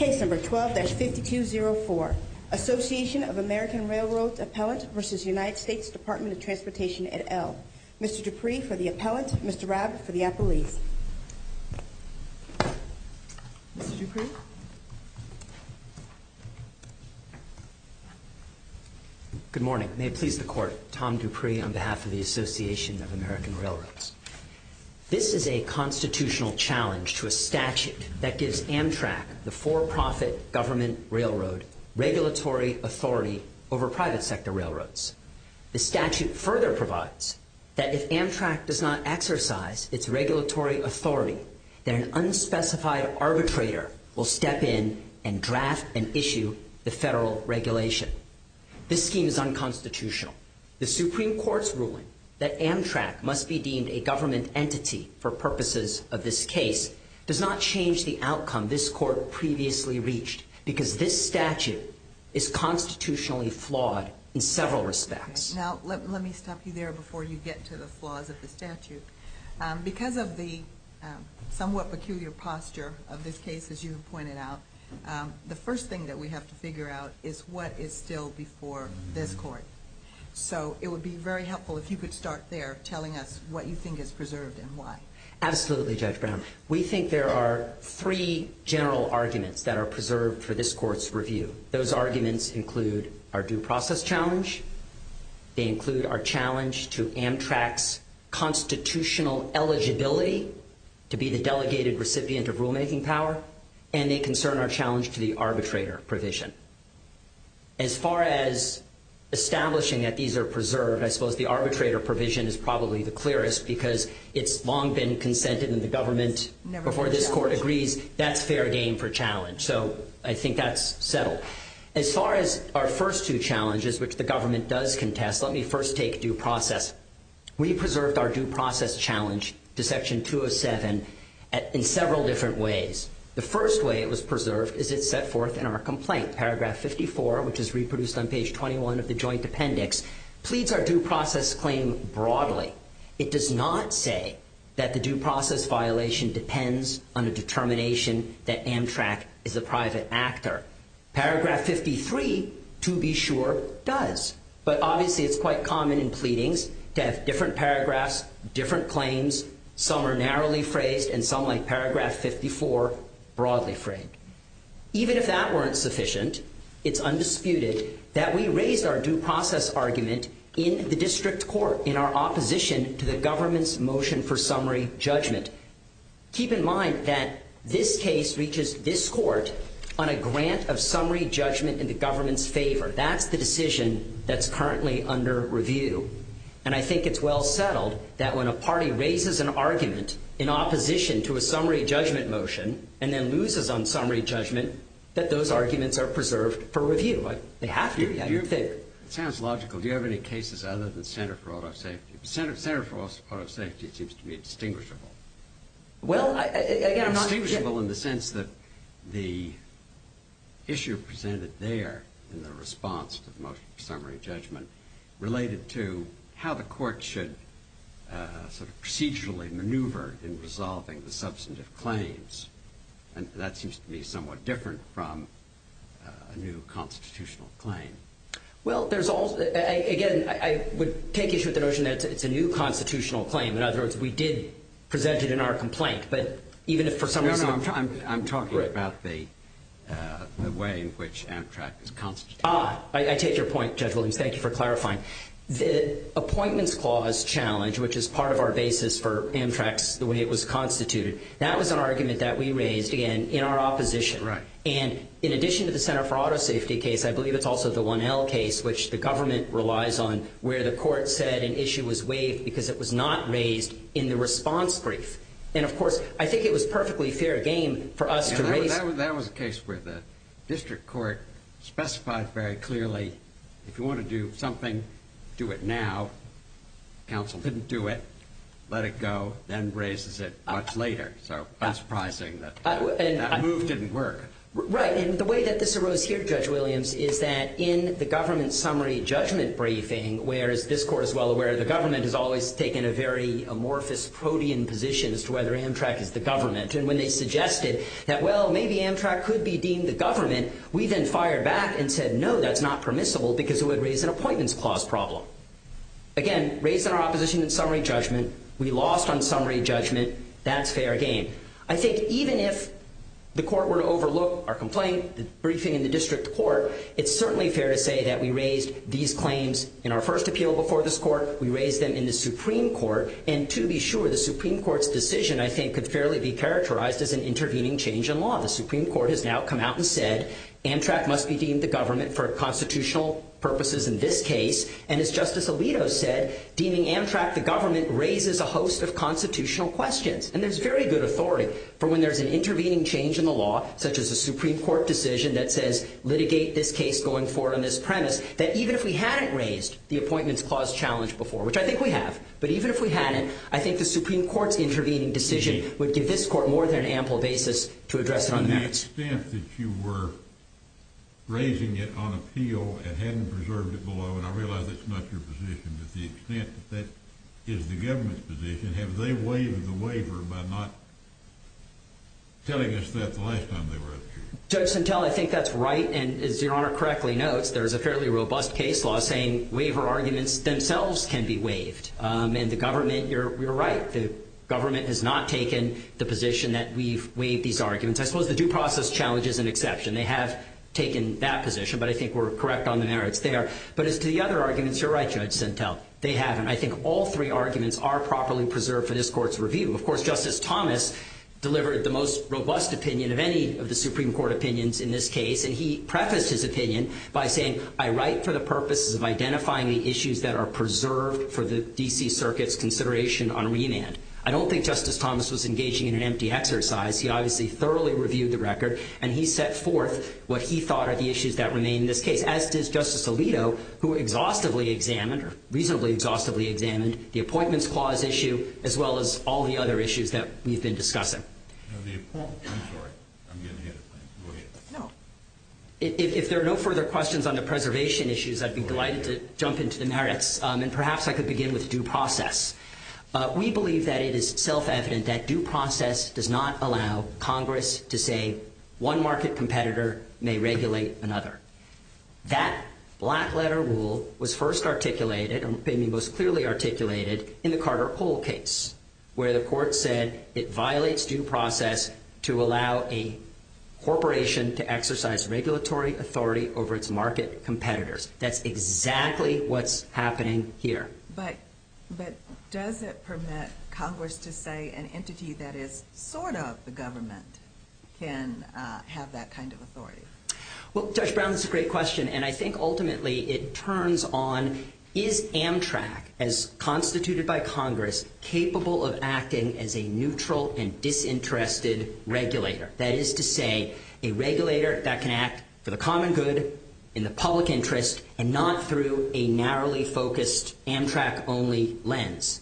et al. Mr. Dupree for the appellant, Mr. Rabb for the appellee. Mr. Dupree? Good morning. May it please the Court, Tom Dupree on behalf of the Association of American Railroads. This is a constitutional challenge to a statute that gives Amtrak the for-profit government railroad regulatory authority over private sector railroads. The statute further provides that if Amtrak does not exercise its regulatory authority, then an unspecified arbitrator will step in and draft and issue the federal regulation. This scheme is unconstitutional. The Supreme Court's ruling that Amtrak must be deemed a government entity for purposes of this case does not change the outcome this Court previously reached because this statute is constitutionally flawed in several respects. Now, let me stop you there before you get to the flaws of the statute. Because of the somewhat peculiar posture of this case, as you have pointed out, the first thing that we have to figure out is what is still before this Court. So it would be very helpful if you could start there telling us what you think is preserved and why. Absolutely, Judge Brown. We think there are three general arguments that are preserved for this Court's review. Those arguments include our due process challenge. They include our challenge to Amtrak's constitutional eligibility to be the delegated recipient of rulemaking power. And they concern our challenge to the arbitrator provision. As far as establishing that these are preserved, I suppose the arbitrator provision is probably the clearest because it's long been consented in the government before this Court agrees that's fair game for challenge. So I think that's settled. As far as our first two challenges, which the government does contest, let me first take due process. We preserved our due process challenge to Section 207 in several different ways. The first way it was preserved is it's set forth in our complaint. Paragraph 54, which is reproduced on page 21 of the joint appendix, pleads our due process claim broadly. It does not say that the due process violation depends on a determination that Amtrak is a private actor. Paragraph 53, to be sure, does. But obviously it's quite common in pleadings to have different paragraphs, different claims. Some are narrowly phrased and some, like paragraph 54, broadly phrased. Even if that weren't sufficient, it's undisputed that we raised our due process argument in the district court in our opposition to the government's motion for summary judgment. Keep in mind that this case reaches this Court on a grant of summary judgment in the government's favor. That's the decision that's currently under review. And I think it's well settled that when a party raises an argument in opposition to a summary judgment motion and then loses on summary judgment, that those arguments are preserved for review. They have to. It sounds logical. Do you have any cases other than Center for Auto Safety? Center for Auto Safety seems to be distinguishable. Well, again, I'm not going to get… Distinguishable in the sense that the issue presented there in the response to the motion for summary judgment related to how the Court should sort of procedurally maneuver in resolving the substantive claims. And that seems to be somewhat different from a new constitutional claim. Well, there's also… Again, I would take issue with the notion that it's a new constitutional claim. In other words, we did present it in our complaint, but even if for some reason… No, no, I'm talking about the way in which Amtrak is constituted. Ah, I take your point, Judge Williams. Thank you for clarifying. The appointments clause challenge, which is part of our basis for Amtrak's, the way it was constituted, that was an argument that we raised, again, in our opposition. Right. And in addition to the Center for Auto Safety case, I believe it's also the 1L case, which the government relies on, where the Court said an issue was waived because it was not raised in the response brief. And, of course, I think it was perfectly fair game for us to raise… That was a case where the District Court specified very clearly, if you want to do something, do it now. Council didn't do it. Let it go. Then raises it much later. So that's surprising that that move didn't work. Right. And the way that this arose here, Judge Williams, is that in the government summary judgment briefing, where, as this Court is well aware, the government has always taken a very amorphous, protean position as to whether Amtrak is the government, and when they suggested that, well, maybe Amtrak could be deemed the government, we then fired back and said, no, that's not permissible because it would raise an appointments clause problem. Again, raised in our opposition in summary judgment. We lost on summary judgment. That's fair game. I think even if the Court were to overlook our complaint, the briefing in the District Court, it's certainly fair to say that we raised these claims in our first appeal before this Court. We raised them in the Supreme Court. And to be sure, the Supreme Court's decision, I think, could fairly be characterized as an intervening change in law. The Supreme Court has now come out and said, Amtrak must be deemed the government for constitutional purposes in this case. And as Justice Alito said, deeming Amtrak the government raises a host of constitutional questions. And there's very good authority for when there's an intervening change in the law, such as a Supreme Court decision that says, litigate this case going forward on this premise, that even if we hadn't raised the appointments clause challenge before, which I think we have, but even if we hadn't, I think the Supreme Court's intervening decision would give this Court more than ample basis to address it on the merits. In the extent that you were raising it on appeal and hadn't preserved it below, and I realize that's not your position, but the extent that that is the government's position, have they waived the waiver by not telling us that the last time they were up here? Judge Sentelle, I think that's right. And as Your Honor correctly notes, there's a fairly robust case law saying waiver arguments themselves can be waived. And the government, you're right. The government has not taken the position that we've waived these arguments. I suppose the due process challenge is an exception. They have taken that position, but I think we're correct on the merits there. But as to the other arguments, you're right, Judge Sentelle, they haven't. I think all three arguments are properly preserved for this Court's review. Of course, Justice Thomas delivered the most robust opinion of any of the Supreme Court opinions in this case, and he prefaced his opinion by saying, I write for the purposes of identifying the issues that are preserved for the D.C. Circuit's consideration on remand. I don't think Justice Thomas was engaging in an empty exercise. He obviously thoroughly reviewed the record, and he set forth what he thought are the issues that remain in this case, as did Justice Alito, who exhaustively examined, or reasonably exhaustively examined, the appointments clause issue as well as all the other issues that we've been discussing. The appointments, I'm sorry. I'm getting ahead of myself. Go ahead. No. If there are no further questions on the preservation issues, I'd be delighted to jump into the merits, and perhaps I could begin with due process. We believe that it is self-evident that due process does not allow Congress to say one market competitor may regulate another. That black letter rule was first articulated, or may be most clearly articulated, in the Carter-Hole case, where the court said it violates due process to allow a corporation to exercise regulatory authority over its market competitors. That's exactly what's happening here. But does it permit Congress to say an entity that is sort of the government can have that kind of authority? Well, Judge Brown, that's a great question, and I think ultimately it turns on, is Amtrak, as constituted by Congress, capable of acting as a neutral and disinterested regulator? That is to say, a regulator that can act for the common good, in the public interest, and not through a narrowly focused Amtrak-only lens.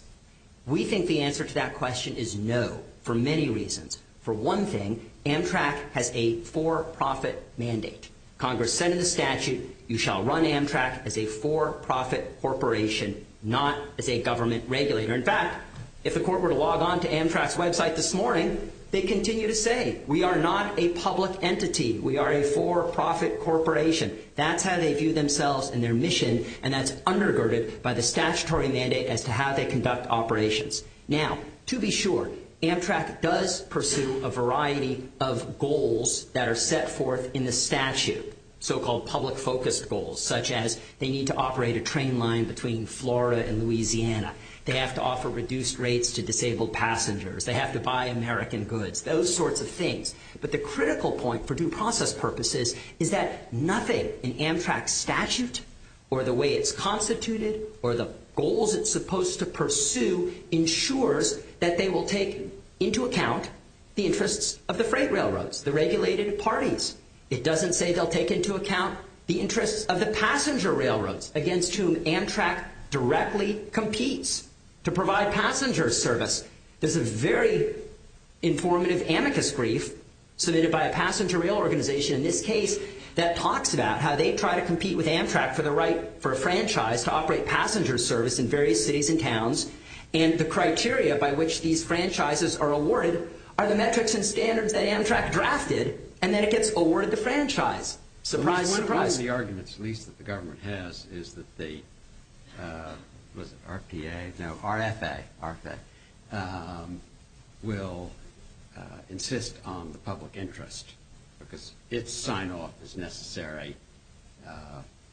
We think the answer to that question is no, for many reasons. For one thing, Amtrak has a for-profit mandate. Congress said in the statute, you shall run Amtrak as a for-profit corporation, not as a government regulator. In fact, if the court were to log on to Amtrak's website this morning, they'd continue to say, we are not a public entity. We are a for-profit corporation. That's how they view themselves and their mission, and that's undergirded by the statutory mandate as to how they conduct operations. Now, to be sure, Amtrak does pursue a variety of goals that are set forth in the statute, so-called public-focused goals, such as they need to operate a train line between Florida and Louisiana, they have to offer reduced rates to disabled passengers, they have to buy American goods, those sorts of things. But the critical point, for due process purposes, is that nothing in Amtrak's statute or the way it's constituted or the goals it's supposed to pursue ensures that they will take into account the interests of the freight railroads, the regulated parties. It doesn't say they'll take into account the interests of the passenger railroads against whom Amtrak directly competes to provide passenger service. There's a very informative amicus brief submitted by a passenger rail organization, in this case, that talks about how they try to compete with Amtrak for the right for a franchise to operate passenger service in various cities and towns, and the criteria by which these franchises are awarded are the metrics and standards that Amtrak drafted, and then it gets awarded the franchise. Surprise, surprise. One of the arguments, at least, that the government has is that the RFA will insist on the public interest because its sign-off is necessary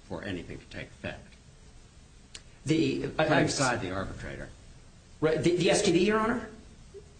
for anything to take effect, outside the arbitrator. The STB, Your Honor?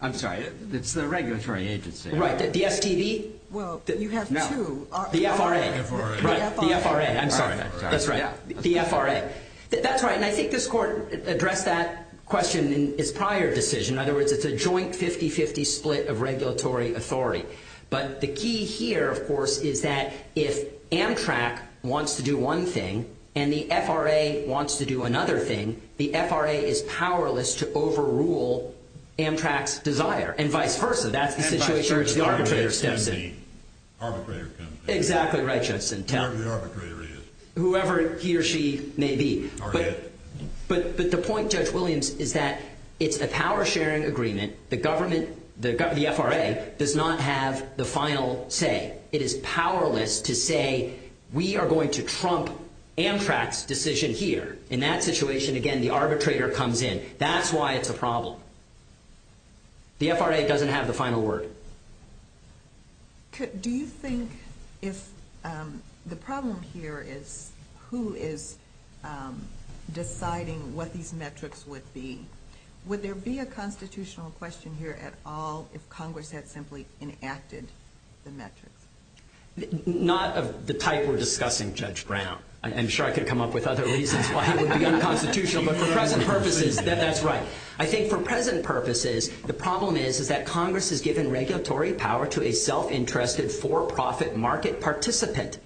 I'm sorry, it's the regulatory agency. Right, the STB? Well, you have two. The FRA. The FRA. The FRA, I'm sorry. That's right. The FRA. That's right, and I think this Court addressed that question in its prior decision. In other words, it's a joint 50-50 split of regulatory authority. But the key here, of course, is that if Amtrak wants to do one thing and the FRA wants to do another thing, the FRA is powerless to overrule Amtrak's desire, and vice versa. That's the situation where it's the arbitrator's decision. And vice versa. The arbitrator can be. Exactly right, Justin. Whoever the arbitrator is. Whoever he or she may be. Or it. But the point, Judge Williams, is that it's a power-sharing agreement. The government, the FRA, does not have the final say. It is powerless to say we are going to trump Amtrak's decision here. In that situation, again, the arbitrator comes in. That's why it's a problem. The FRA doesn't have the final word. Do you think if the problem here is who is deciding what these metrics would be, would there be a constitutional question here at all if Congress had simply enacted the metrics? Not of the type we're discussing, Judge Brown. I'm sure I could come up with other reasons why it would be unconstitutional. But for present purposes, that's right. I think for present purposes, the problem is that Congress has given regulatory power to a self-interested for-profit market participant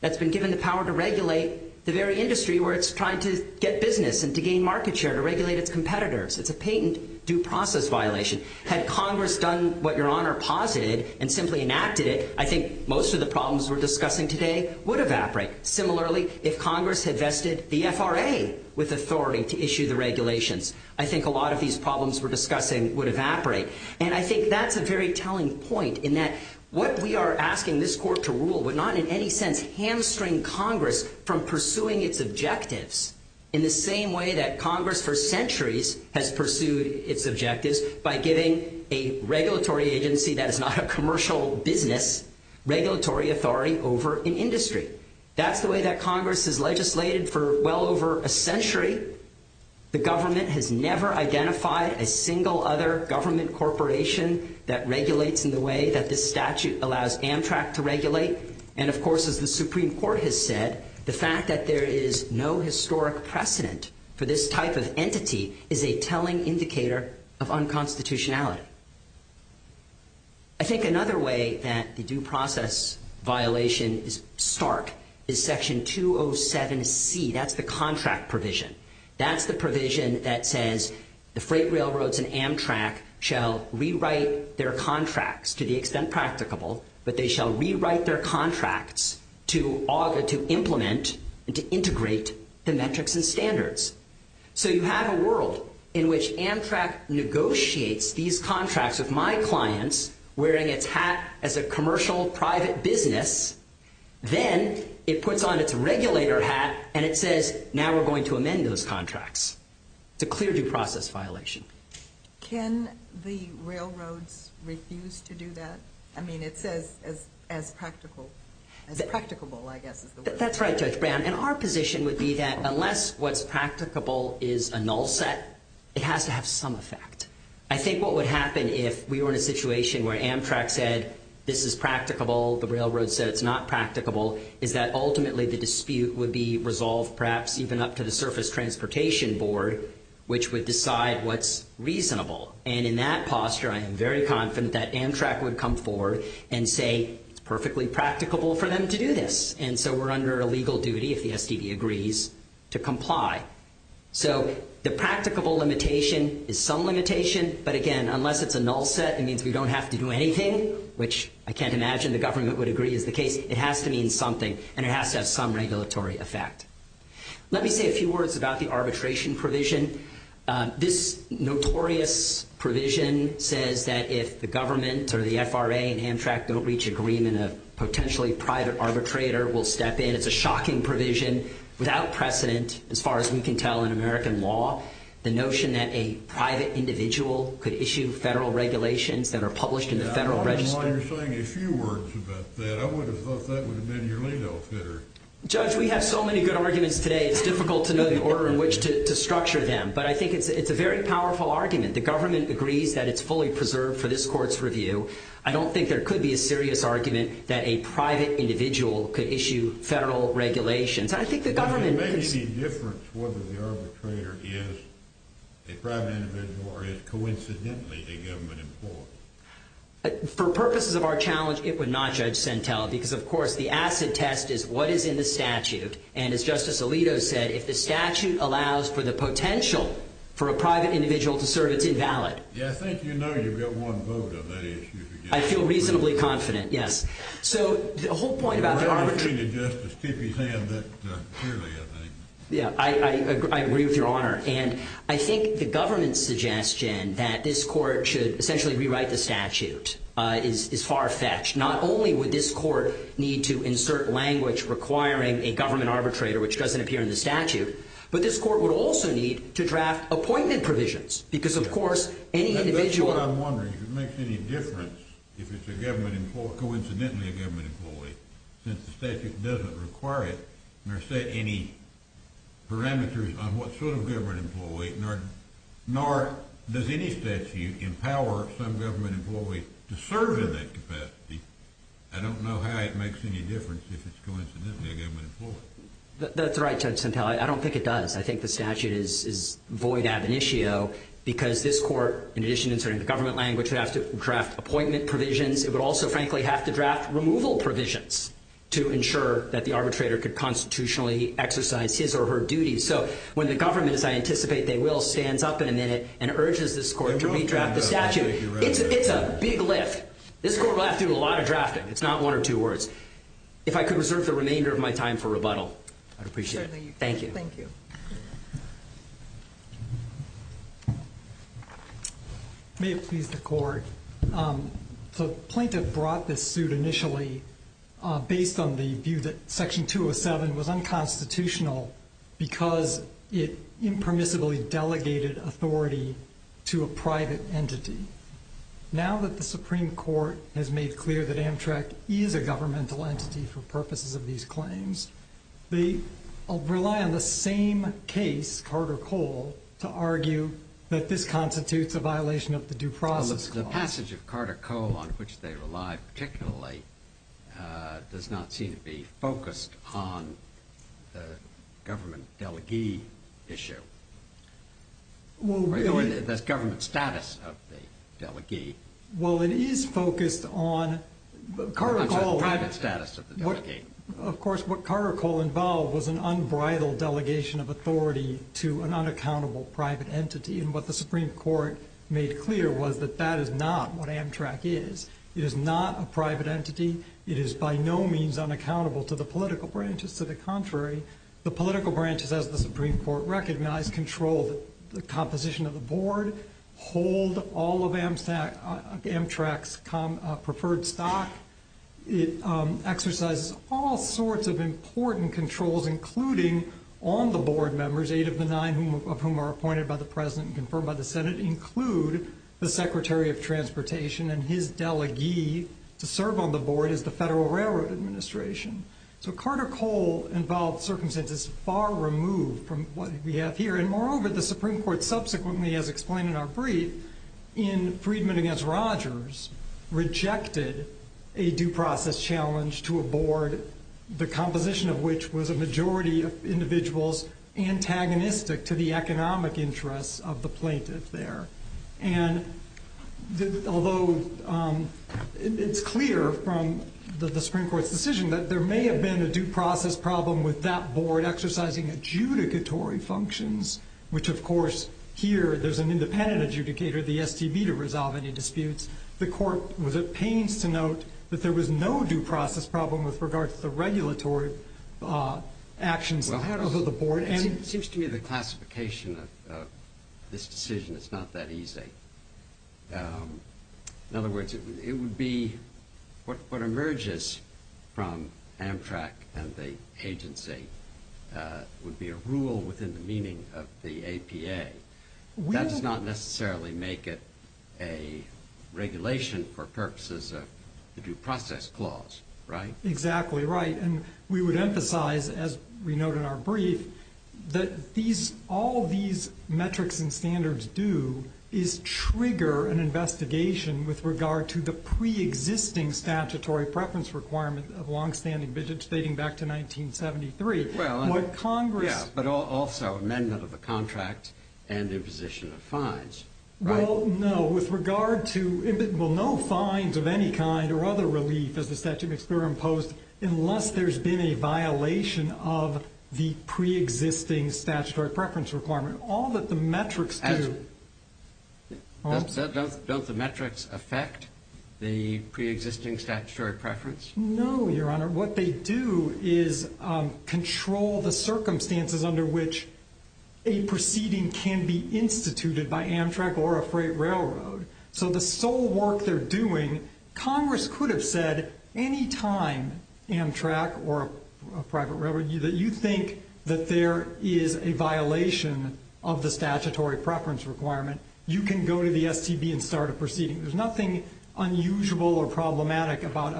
that's been given the power to regulate the very industry where it's trying to get business and to gain market share to regulate its competitors. It's a patent due process violation. Had Congress done what Your Honor posited and simply enacted it, I think most of the problems we're discussing today would evaporate. Similarly, if Congress had vested the FRA with authority to issue the regulations, I think a lot of these problems we're discussing would evaporate. And I think that's a very telling point in that what we are asking this court to rule would not in any sense hamstring Congress from pursuing its objectives in the same way that Congress for centuries has pursued its objectives by giving a regulatory agency that is not a commercial business regulatory authority over an industry. That's the way that Congress has legislated for well over a century. The government has never identified a single other government corporation that regulates in the way that this statute allows Amtrak to regulate. And, of course, as the Supreme Court has said, the fact that there is no historic precedent for this type of entity is a telling indicator of unconstitutionality. I think another way that the due process violation is stark is Section 207C. That's the contract provision. That's the provision that says the freight railroads and Amtrak shall rewrite their contracts to the extent practicable, but they shall rewrite their contracts to implement and to integrate the metrics and standards. So you have a world in which Amtrak negotiates these contracts with my clients wearing its hat as a commercial private business. Then it puts on its regulator hat and it says, now we're going to amend those contracts. It's a clear due process violation. Can the railroads refuse to do that? I mean, it says as practical, as practicable, I guess is the word. That's right, Judge Brown. And our position would be that unless what's practicable is a null set, it has to have some effect. I think what would happen if we were in a situation where Amtrak said, this is practicable, the railroad said it's not practicable, is that ultimately the dispute would be resolved perhaps even up to the Surface Transportation Board, which would decide what's reasonable. And in that posture, I am very confident that Amtrak would come forward and say it's perfectly practicable for them to do this. And so we're under a legal duty, if the STD agrees, to comply. So the practicable limitation is some limitation, but, again, unless it's a null set, it means we don't have to do anything, which I can't imagine the government would agree is the case. It has to mean something, and it has to have some regulatory effect. Let me say a few words about the arbitration provision. This notorious provision says that if the government or the FRA and Amtrak don't reach agreement, a potentially private arbitrator will step in. It's a shocking provision without precedent as far as we can tell in American law. The notion that a private individual could issue federal regulations that are published in the Federal Register. I don't know why you're saying a few words about that. I would have thought that would have been your lead-off hitter. Judge, we have so many good arguments today, it's difficult to know the order in which to structure them. But I think it's a very powerful argument. The government agrees that it's fully preserved for this court's review. I don't think there could be a serious argument that a private individual could issue federal regulations. Does it make any difference whether the arbitrator is a private individual or is coincidentally a government employee? For purposes of our challenge, it would not, Judge Sentelle, because of course the acid test is what is in the statute. And as Justice Alito said, if the statute allows for the potential for a private individual to serve, it's invalid. Yeah, I think you know you've got one vote on that issue. I feel reasonably confident, yes. So the whole point about the arbitration— The arbitration of justice, keep his hand up clearly, I think. Yeah, I agree with Your Honor. And I think the government's suggestion that this court should essentially rewrite the statute is far-fetched. Not only would this court need to insert language requiring a government arbitrator, which doesn't appear in the statute, but this court would also need to draft appointment provisions because, of course, any individual— since the statute doesn't require it nor set any parameters on what sort of government employee, nor does any statute empower some government employee to serve in that capacity, I don't know how it makes any difference if it's coincidentally a government employee. That's right, Judge Sentelle. I don't think it does. I think the statute is void ab initio because this court, in addition to inserting the government language, would have to draft appointment provisions. It would also, frankly, have to draft removal provisions to ensure that the arbitrator could constitutionally exercise his or her duties. So when the government, as I anticipate they will, stands up in a minute and urges this court to redraft the statute, it's a big lift. This court will have to do a lot of drafting. It's not one or two words. If I could reserve the remainder of my time for rebuttal, I'd appreciate it. Certainly. Thank you. Thank you. May it please the Court. The plaintiff brought this suit initially based on the view that Section 207 was unconstitutional because it impermissibly delegated authority to a private entity. Now that the Supreme Court has made clear that Amtrak is a governmental entity for purposes of these claims, they rely on the same case, Carter-Cole, to argue that this constitutes a violation of the due process clause. The passage of Carter-Cole, on which they rely particularly, does not seem to be focused on the government delegee issue, or the government status of the delegee. Well, it is focused on Carter-Cole. The private status of the delegee. Of course, what Carter-Cole involved was an unbridled delegation of authority to an unaccountable private entity. And what the Supreme Court made clear was that that is not what Amtrak is. It is not a private entity. It is by no means unaccountable to the political branches. To the contrary, the political branches, as the Supreme Court recognized, control the composition of the board, hold all of Amtrak's preferred stock. It exercises all sorts of important controls, including on the board members, eight of the nine of whom are appointed by the President and confirmed by the Senate, include the Secretary of Transportation and his delegee to serve on the board is the Federal Railroad Administration. So Carter-Cole involved circumstances far removed from what we have here. And moreover, the Supreme Court subsequently, as explained in our brief, in Friedman v. Rogers rejected a due process challenge to a board, the composition of which was a majority of individuals antagonistic to the economic interests of the plaintiff there. And although it's clear from the Supreme Court's decision that there may have been a due process problem with that board exercising adjudicatory functions, which, of course, here there's an independent adjudicator, the STB, to resolve any disputes, the court was at pains to note that there was no due process problem with regard to the regulatory actions of the board. It seems to me the classification of this decision is not that easy. In other words, it would be what emerges from Amtrak and the agency would be a rule within the meaning of the APA. That does not necessarily make it a regulation for purposes of the due process clause, right? Exactly right. And we would emphasize, as we note in our brief, that all these metrics and standards do is trigger an investigation with regard to the preexisting statutory preference requirement of long-standing business dating back to 1973. Yeah, but also amendment of the contract and imposition of fines, right? Well, no. With regard to, well, no fines of any kind or other relief as the statute of experiment imposed unless there's been a violation of the preexisting statutory preference requirement. All that the metrics do... Don't the metrics affect the preexisting statutory preference? No, Your Honor. What they do is control the circumstances under which a proceeding can be instituted by Amtrak or a freight railroad. So the sole work they're doing, Congress could have said any time Amtrak or a private railroad, that you think that there is a violation of the statutory preference requirement, you can go to the STB and start a proceeding. There's nothing unusual or problematic about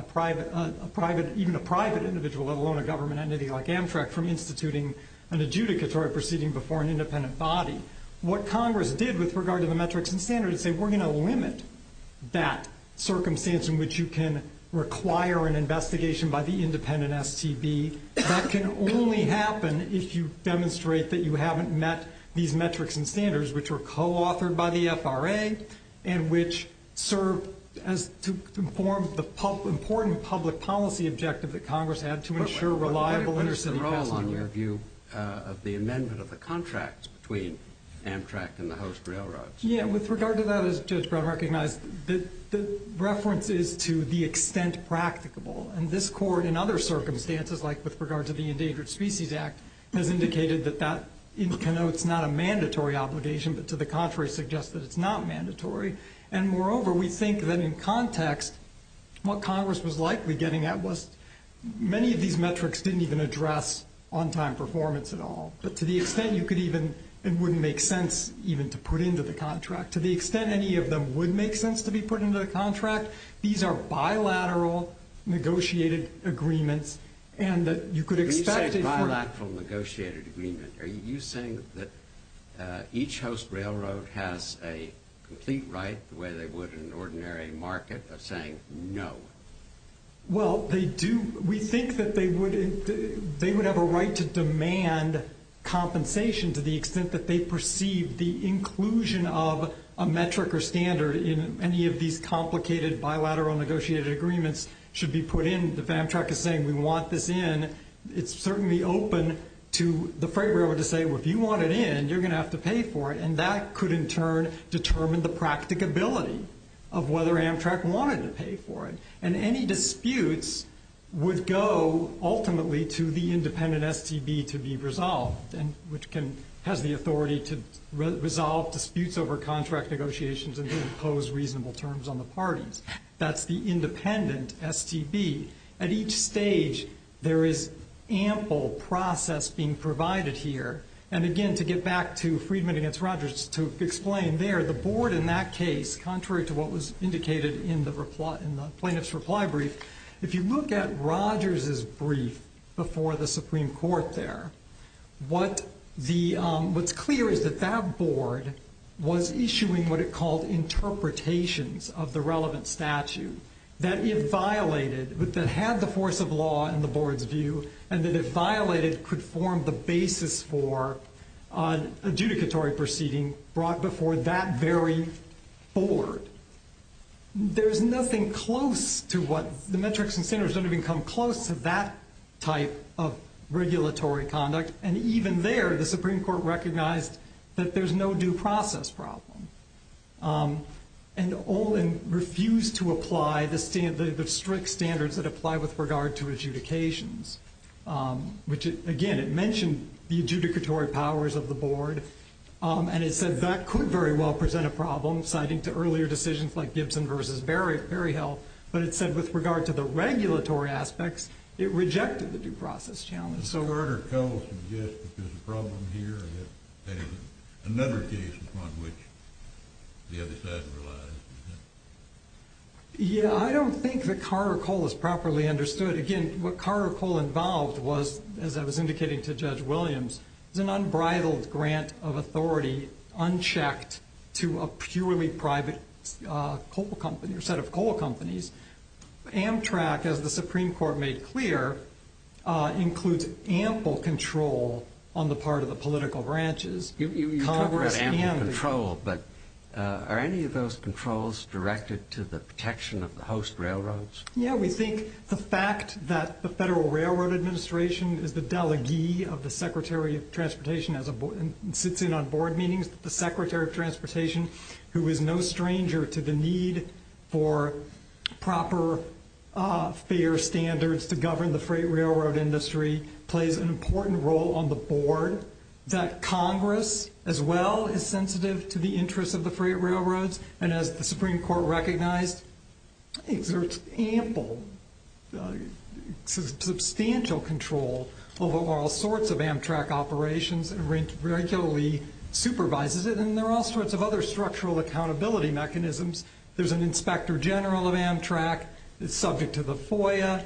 even a private individual, let alone a government entity like Amtrak, from instituting an adjudicatory proceeding before an independent body. What Congress did with regard to the metrics and standards is say, we're going to limit that circumstance in which you can require an investigation by the independent STB. That can only happen if you demonstrate that you haven't met these metrics and standards, which were co-authored by the FRA and which serve to inform the important public policy objective that Congress had to ensure reliable intercity passenger... But they're all on your view of the amendment of the contracts between Amtrak and the host railroads. Yeah, with regard to that, as Judge Brown recognized, the reference is to the extent practicable. And this Court, in other circumstances, like with regard to the Endangered Species Act, has indicated that that connotes not a mandatory obligation, but to the contrary suggests that it's not mandatory. And moreover, we think that in context, what Congress was likely getting at was, many of these metrics didn't even address on-time performance at all. But to the extent you could even, it wouldn't make sense even to put into the contract. To the extent any of them would make sense to be put into the contract, these are bilateral negotiated agreements and that you could expect... Bilateral negotiated agreement, are you saying that each host railroad has a complete right, the way they would in an ordinary market, of saying no? Well, they do. We think that they would have a right to demand compensation to the extent that they perceive the inclusion of a metric or standard in any of these complicated bilateral negotiated agreements should be put in. If Amtrak is saying we want this in, it's certainly open to the freight railroad to say, well, if you want it in, you're going to have to pay for it. And that could in turn determine the practicability of whether Amtrak wanted to pay for it. And any disputes would go ultimately to the independent STB to be resolved, which has the authority to resolve disputes over contract negotiations and impose reasonable terms on the parties. That's the independent STB. At each stage, there is ample process being provided here. And again, to get back to Friedman against Rogers, to explain there, the board in that case, contrary to what was indicated in the plaintiff's reply brief, if you look at Rogers' brief before the Supreme Court there, what's clear is that that board was issuing what it called interpretations of the relevant statute that if violated, that had the force of law in the board's view, and that if violated could form the basis for an adjudicatory proceeding brought before that very board. There's nothing close to what the metrics and standards don't even come close to that type of regulatory conduct. And even there, the Supreme Court recognized that there's no due process problem. And Olin refused to apply the strict standards that apply with regard to adjudications, which again, it mentioned the adjudicatory powers of the board, and it said that could very well present a problem, citing to earlier decisions like Gibson v. Berryhill, but it said with regard to the regulatory aspects, it rejected the due process challenge. Yeah, I don't think that Carter-Cole is properly understood. Again, what Carter-Cole involved was, as I was indicating to Judge Williams, is an unbridled grant of authority unchecked to a purely private set of coal companies. Amtrak, as the Supreme Court made clear, includes ample control on the part of the political branches. You talk about ample control, but are any of those controls directed to the protection of the host railroads? Yeah, we think the fact that the Federal Railroad Administration is the delegee of the Secretary of Transportation and sits in on board meetings, the Secretary of Transportation, who is no stranger to the need for proper fare standards to govern the freight railroad industry, plays an important role on the board, that Congress as well is sensitive to the interests of the freight railroads, and as the Supreme Court recognized, exerts ample, substantial control over all sorts of Amtrak operations and regularly supervises it, and there are all sorts of other structural accountability mechanisms. There's an Inspector General of Amtrak that's subject to the FOIA,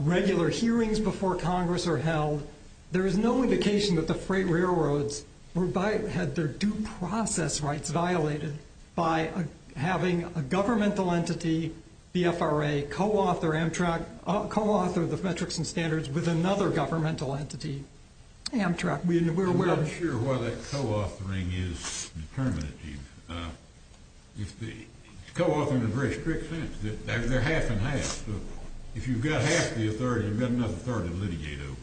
regular hearings before Congress are held. There is no indication that the freight railroads had their due process rights violated by having a governmental entity, the FRA, co-author the metrics and standards with another governmental entity. Amtrak. I'm not sure why that co-authoring is determinative. It's co-authoring in the very strict sense that they're half and half, so if you've got half the authority, you've got enough authority to litigate over.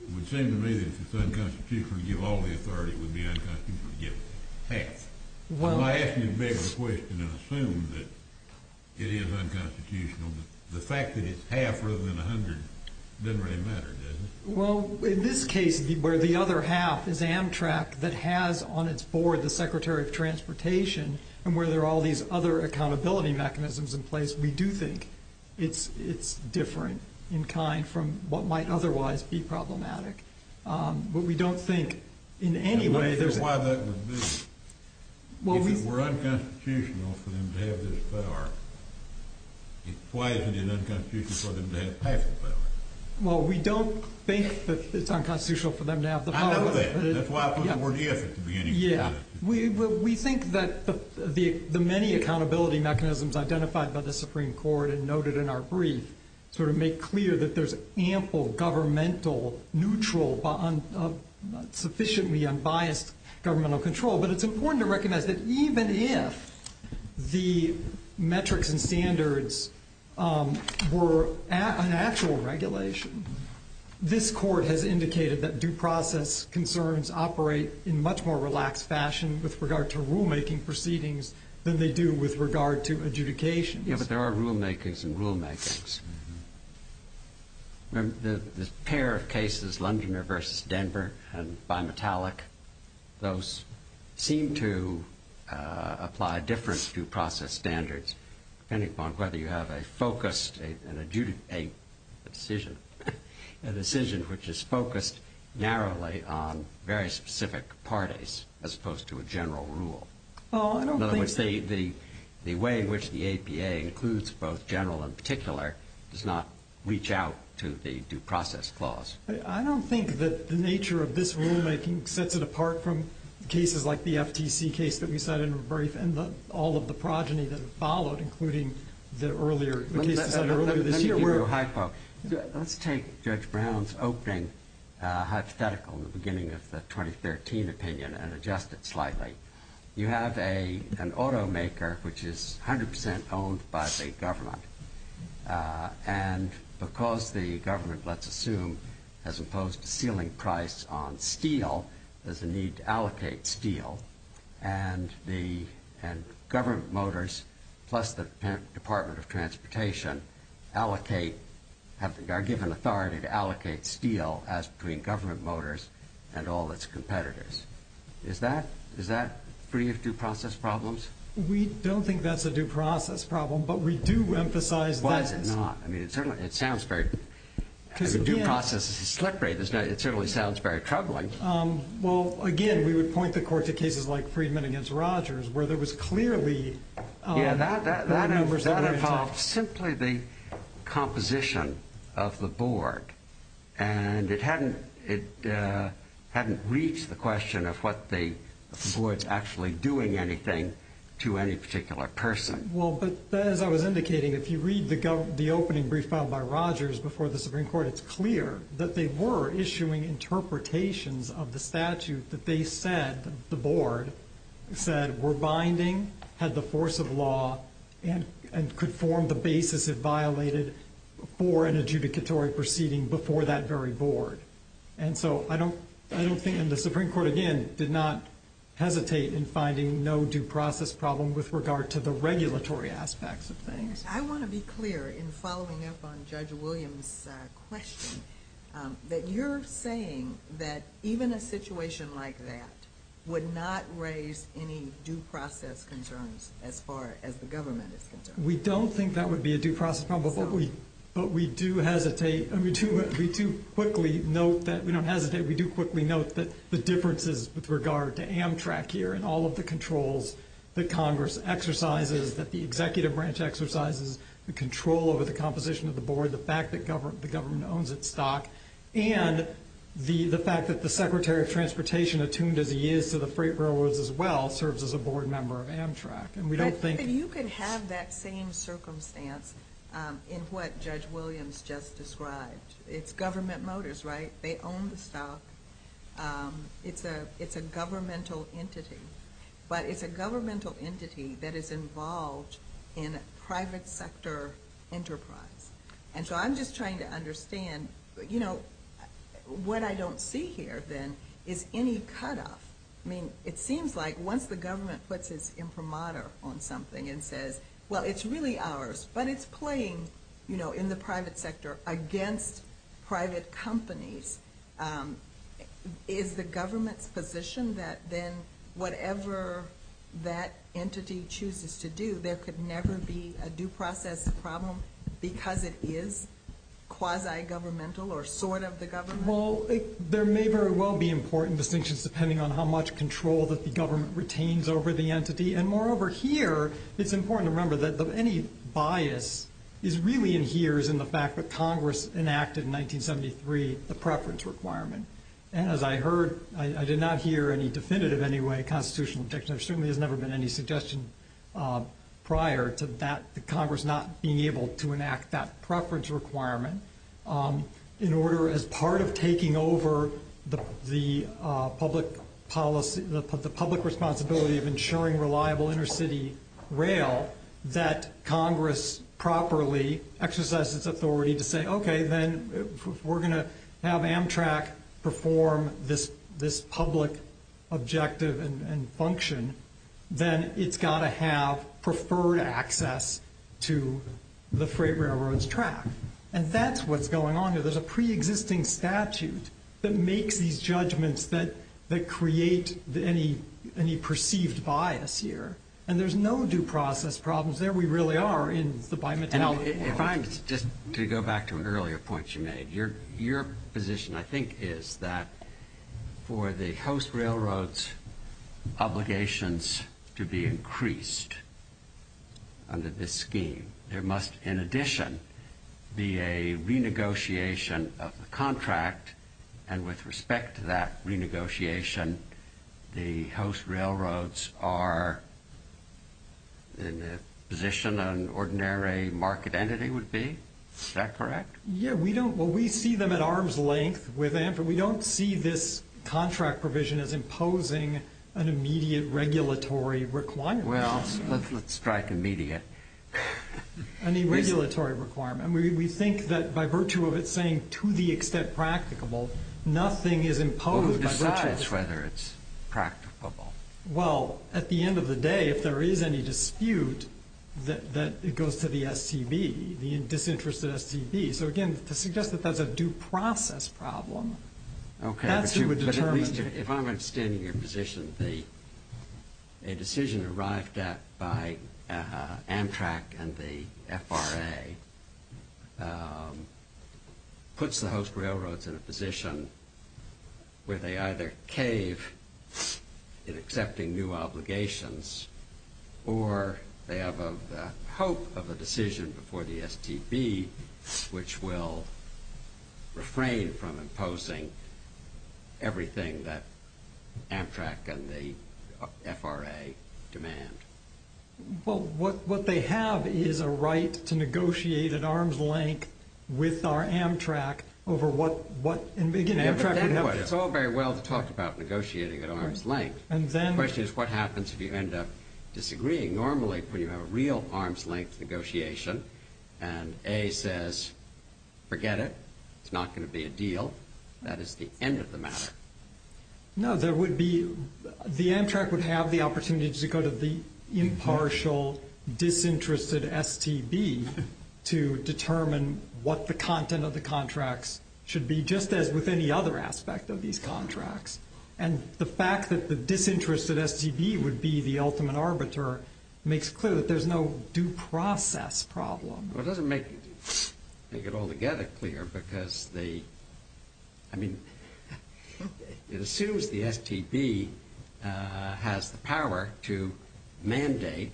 It would seem to me that if it's unconstitutional to give all the authority, it would be unconstitutional to give half. I'm asking you to beg the question and assume that it is unconstitutional, but the fact that it's half rather than a hundred doesn't really matter, does it? Well, in this case, where the other half is Amtrak that has on its board the Secretary of Transportation and where there are all these other accountability mechanisms in place, we do think it's different in kind from what might otherwise be problematic. But we don't think in any way there's a— I'm not sure why that would be. If it were unconstitutional for them to have this power, why isn't it unconstitutional for them to have payful power? Well, we don't think that it's unconstitutional for them to have the power. I know that. That's why I put the word if at the beginning. Yeah. We think that the many accountability mechanisms identified by the Supreme Court and noted in our brief sort of make clear that there's ample governmental, neutral, sufficiently unbiased governmental control, but it's important to recognize that even if the metrics and standards were an actual regulation, this Court has indicated that due process concerns operate in a much more relaxed fashion with regard to rulemaking proceedings than they do with regard to adjudications. Yeah, but there are rulemakings and rulemakings. There's a pair of cases, Londoner v. Denver and Bimetallic. Those seem to apply different due process standards depending upon whether you have a focused and a decision which is focused narrowly on very specific parties as opposed to a general rule. In other words, the way in which the APA includes both general and particular does not reach out to the due process clause. I don't think that the nature of this rulemaking sets it apart from cases like the FTC case that we cited in the brief and all of the progeny that followed, including the case that was cited earlier this year. Let me give you a hypo. Let's take Judge Brown's opening hypothetical in the beginning of the 2013 opinion and adjust it slightly. You have an automaker which is 100% owned by the government, and because the government, let's assume, has imposed a ceiling price on steel, there's a need to allocate steel, and government motors plus the Department of Transportation allocate, are given authority to allocate steel as between government motors and all its competitors. Is that free of due process problems? We don't think that's a due process problem, but we do emphasize that it is. Why is it not? I mean, due process is slippery. It certainly sounds very troubling. Well, again, we would point the court to cases like Freedman v. Rogers where there was clearly numbers that were intact. Yeah, that involved simply the composition of the board, and it hadn't reached the question of what the board's actually doing anything to any particular person. Well, but as I was indicating, if you read the opening brief filed by Rogers before the Supreme Court, it's clear that they were issuing interpretations of the statute that they said, that the board said were binding, had the force of law, and could form the basis if violated for an adjudicatory proceeding before that very board. And so I don't think, and the Supreme Court, again, did not hesitate in finding no due process problem with regard to the regulatory aspects of things. I want to be clear in following up on Judge Williams' question that you're saying that even a situation like that would not raise any due process concerns as far as the government is concerned. We don't think that would be a due process problem, but we do hesitate, we do quickly note that the differences with regard to Amtrak here and all of the controls that Congress exercises, that the executive branch exercises, the control over the composition of the board, the fact that the government owns its stock, and the fact that the Secretary of Transportation, attuned as he is to the freight railroads as well, serves as a board member of Amtrak. But you could have that same circumstance in what Judge Williams just described. It's government motors, right? They own the stock. It's a governmental entity. But it's a governmental entity that is involved in a private sector enterprise. And so I'm just trying to understand, you know, what I don't see here then is any cutoff. I mean, it seems like once the government puts its imprimatur on something and says, well, it's really ours, but it's playing, you know, in the private sector against private companies, is the government's position that then whatever that entity chooses to do, there could never be a due process problem because it is quasi-governmental or sort of the government? Well, there may very well be important distinctions, depending on how much control that the government retains over the entity. And, moreover, here it's important to remember that any bias really adheres in the fact that Congress enacted in 1973 the preference requirement. And as I heard, I did not hear any definitive anyway constitutional objection. There certainly has never been any suggestion prior to that, Congress not being able to enact that preference requirement in order, as part of taking over the public responsibility of ensuring reliable intercity rail, that Congress properly exercises its authority to say, okay, then if we're going to have Amtrak perform this public objective and function, then it's got to have preferred access to the freight railroad's track. And that's what's going on here. There's a preexisting statute that makes these judgments that create any perceived bias here. And there's no due process problems there. We really are in the bimetallic world. Well, if I'm just to go back to an earlier point you made, your position I think is that for the host railroad's obligations to be increased under this scheme, there must, in addition, be a renegotiation of the contract. And with respect to that renegotiation, the host railroads are in a position an ordinary market entity would be? Is that correct? Yeah. Well, we see them at arm's length with Amtrak. We don't see this contract provision as imposing an immediate regulatory requirement. Well, let's strike immediate. An irregulatory requirement. We think that by virtue of it saying to the extent practicable, nothing is imposed. Well, who decides whether it's practicable? Well, at the end of the day, if there is any dispute, that goes to the STB, the disinterested STB. So, again, to suggest that that's a due process problem, that's who would determine. If I'm understanding your position, a decision arrived at by Amtrak and the FRA puts the host railroads in a position where they either cave in accepting new obligations or they have the hope of a decision before the STB which will refrain from imposing everything that Amtrak and the FRA demand. Well, what they have is a right to negotiate at arm's length with our Amtrak over what, again, Amtrak would have. It's all very well to talk about negotiating at arm's length. The question is what happens if you end up disagreeing normally when you have a real arm's length negotiation and A says forget it, it's not going to be a deal, that is the end of the matter. No, there would be, the Amtrak would have the opportunity to go to the impartial disinterested STB to determine what the content of the contracts should be just as with any other aspect of these contracts. And the fact that the disinterested STB would be the ultimate arbiter makes clear that there's no due process problem. Well, it doesn't make it altogether clear because the, I mean, it assumes the STB has the power to mandate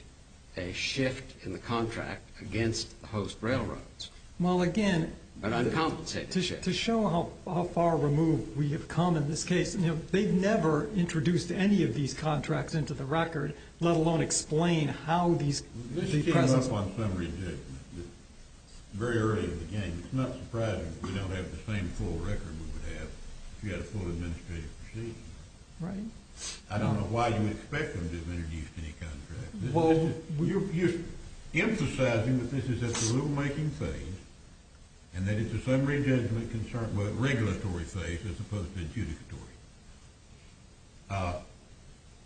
a shift in the contract against the host railroads. Well, again. But uncompensated shift. To show how far removed we have come in this case, you know, they've never introduced any of these contracts into the record, let alone explain how these. This came up on summary judgment very early in the game. It's not surprising that we don't have the same full record we would have if we had a full administrative procedure. Right. I don't know why you would expect them to have introduced any contract. Well, you're emphasizing that this is at the rulemaking phase and that it's a summary judgment concern, but regulatory phase as opposed to adjudicatory.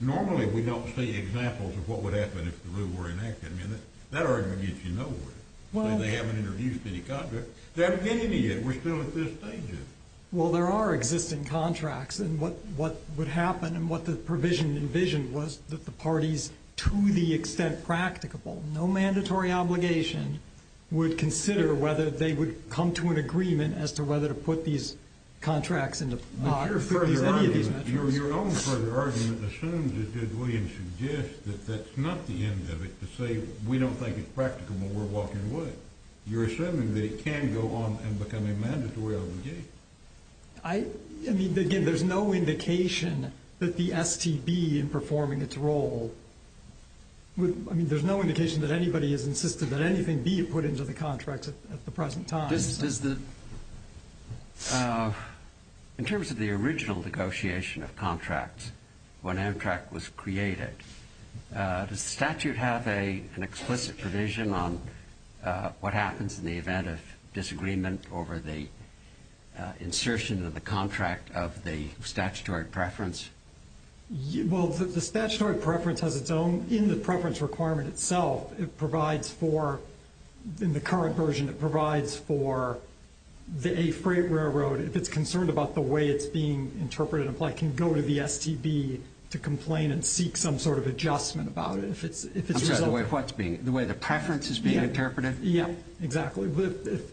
Normally we don't see examples of what would happen if the rule were enacted. I mean, that argument gets you nowhere. They haven't introduced any contract. They haven't given any yet. We're still at this stage of it. Well, there are existing contracts. And what would happen and what the provision envisioned was that the parties, to the extent practicable, no mandatory obligation would consider whether they would come to an agreement as to whether to put these contracts in the record. Your own further argument assumes, as did William, suggests that that's not the end of it. To say we don't think it's practicable, we're walking away. You're assuming that it can go on and become a mandatory obligation. I mean, again, there's no indication that the STB in performing its role, I mean, there's no indication that anybody has insisted that anything be put into the contract at the present time. In terms of the original negotiation of contracts, when Amtrak was created, does the statute have an explicit provision on what happens in the event of disagreement over the insertion of the contract of the statutory preference? Well, the statutory preference has its own, in the preference requirement itself, it provides for, in the current version, it provides for a freight railroad, if it's concerned about the way it's being interpreted and applied, it can go to the STB to complain and seek some sort of adjustment about it. I'm sorry, the way the preference is being interpreted? Yeah, exactly. If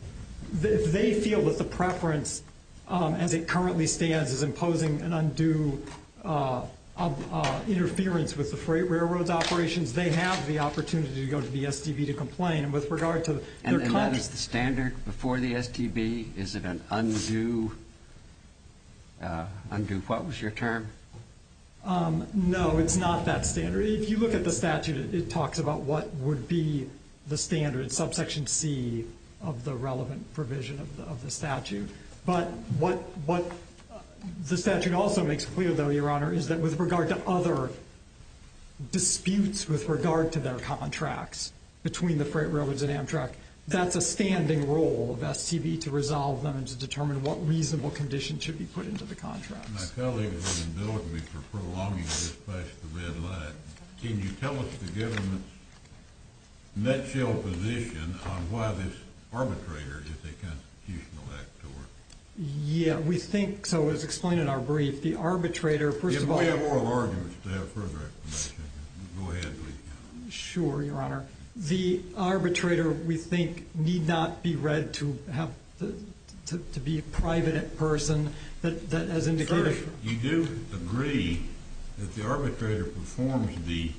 they feel that the preference, as it currently stands, is imposing an undue interference with the freight railroad's operations, they have the opportunity to go to the STB to complain. And that is the standard before the STB? Is it an undue, what was your term? No, it's not that standard. If you look at the statute, it talks about what would be the standard, subsection C, of the relevant provision of the statute. But what the statute also makes clear, though, Your Honor, is that with regard to other disputes with regard to their contracts between the freight railroads and Amtrak, that's a standing role of STB to resolve them and to determine what reasonable conditions should be put into the contracts. My colleague has been indulging me for prolonging this past the red light. Can you tell us the government's nutshell position on why this arbitrator is a constitutional actor? Yeah, we think so. It was explained in our brief. The arbitrator, first of all— If we have oral arguments to have further explanation, go ahead, please. Sure, Your Honor. The arbitrator, we think, need not be read to be a private person that has indicated— First, you do agree that the arbitrator performs the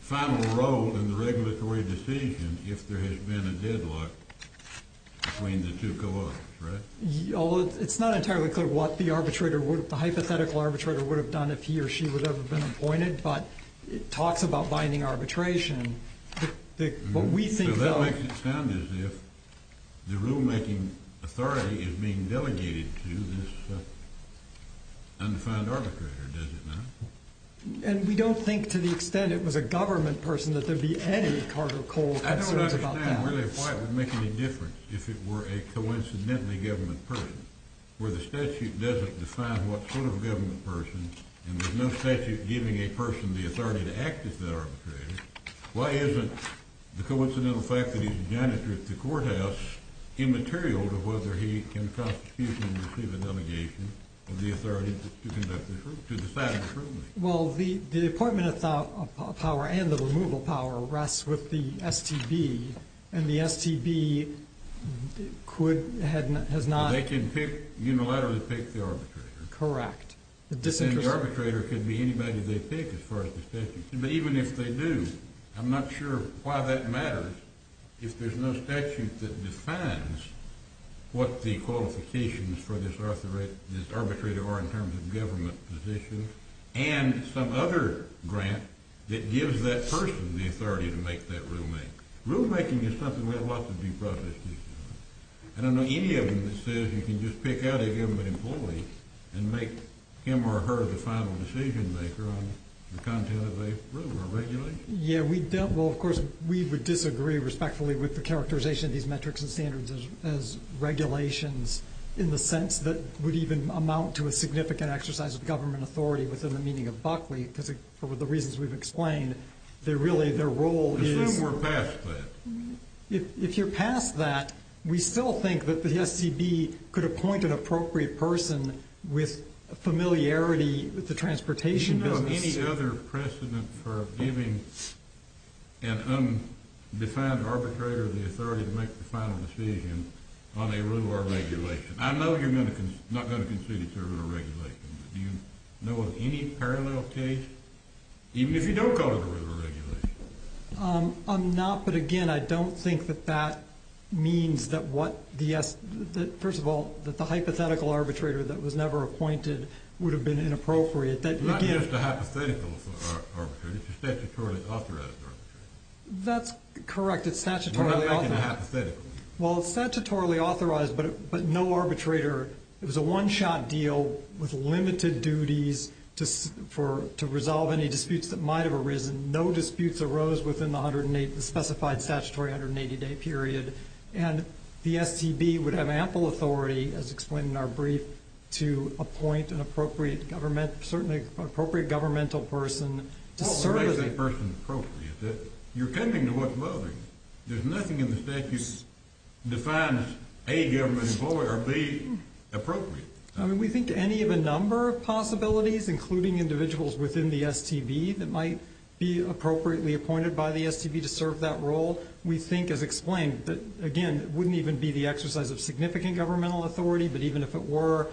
final role in the regulatory decision if there has been a deadlock between the two co-authors, right? Although it's not entirely clear what the hypothetical arbitrator would have done if he or she would have been appointed, but it talks about binding arbitration. What we think, though— So that makes it sound as if the rulemaking authority is being delegated to this undefined arbitrator, does it not? And we don't think to the extent it was a government person that there would be any Carter-Cole concerns about that. I don't understand really why it would make any difference if it were a coincidentally government person, where the statute doesn't define what sort of government person and there's no statute giving a person the authority to act as that arbitrator. Why isn't the coincidental fact that he's a janitor at the courthouse immaterial to whether he can constitute and receive a delegation of the authority to decide on the truth? Well, the appointment of power and the removal of power rests with the STB, and the STB could—has not— They can unilaterally pick the arbitrator. Correct. And the arbitrator could be anybody they pick as far as the statute—but even if they do, I'm not sure why that matters if there's no statute that defines what the qualifications for this arbitrator are in terms of government position and some other grant that gives that person the authority to make that rulemaking. Rulemaking is something we have lots of due process cases on. I don't know any of them that says you can just pick out a given employee and make him or her the final decision maker on the content of a rule or regulation. Yeah, we—well, of course, we would disagree respectfully with the characterization of these metrics and standards as regulations in the sense that would even amount to a significant exercise of government authority within the meaning of Buckley, because for the reasons we've explained, they're really—their role is— Assume we're past that. If you're past that, we still think that the SCB could appoint an appropriate person with familiarity with the transportation business. Do you know of any other precedent for giving an undefined arbitrator the authority to make the final decision on a rule or regulation? I know you're not going to concede it's a rule or regulation, but do you know of any parallel case, even if you don't call it a rule or regulation? I'm not, but again, I don't think that that means that what the—first of all, that the hypothetical arbitrator that was never appointed would have been inappropriate. Again— It's not just a hypothetical arbitrator. It's a statutorily authorized arbitrator. That's correct. It's statutorily authorized. It's not just hypothetical. Well, it's statutorily authorized, but no arbitrator—it was a one-shot deal with limited duties to resolve any disputes that might have arisen. No disputes arose within the specified statutory 180-day period, and the STB would have ample authority, as explained in our brief, to appoint an appropriate government—certainly an appropriate governmental person to serve— Well, what makes that person appropriate? You're coming to what's voting. There's nothing in the statute that defines A, government employer, or B, appropriate. I mean, we think any of a number of possibilities, including individuals within the STB that might be appropriately appointed by the STB to serve that role, we think, as explained, that, again, it wouldn't even be the exercise of significant governmental authority, but even if it were,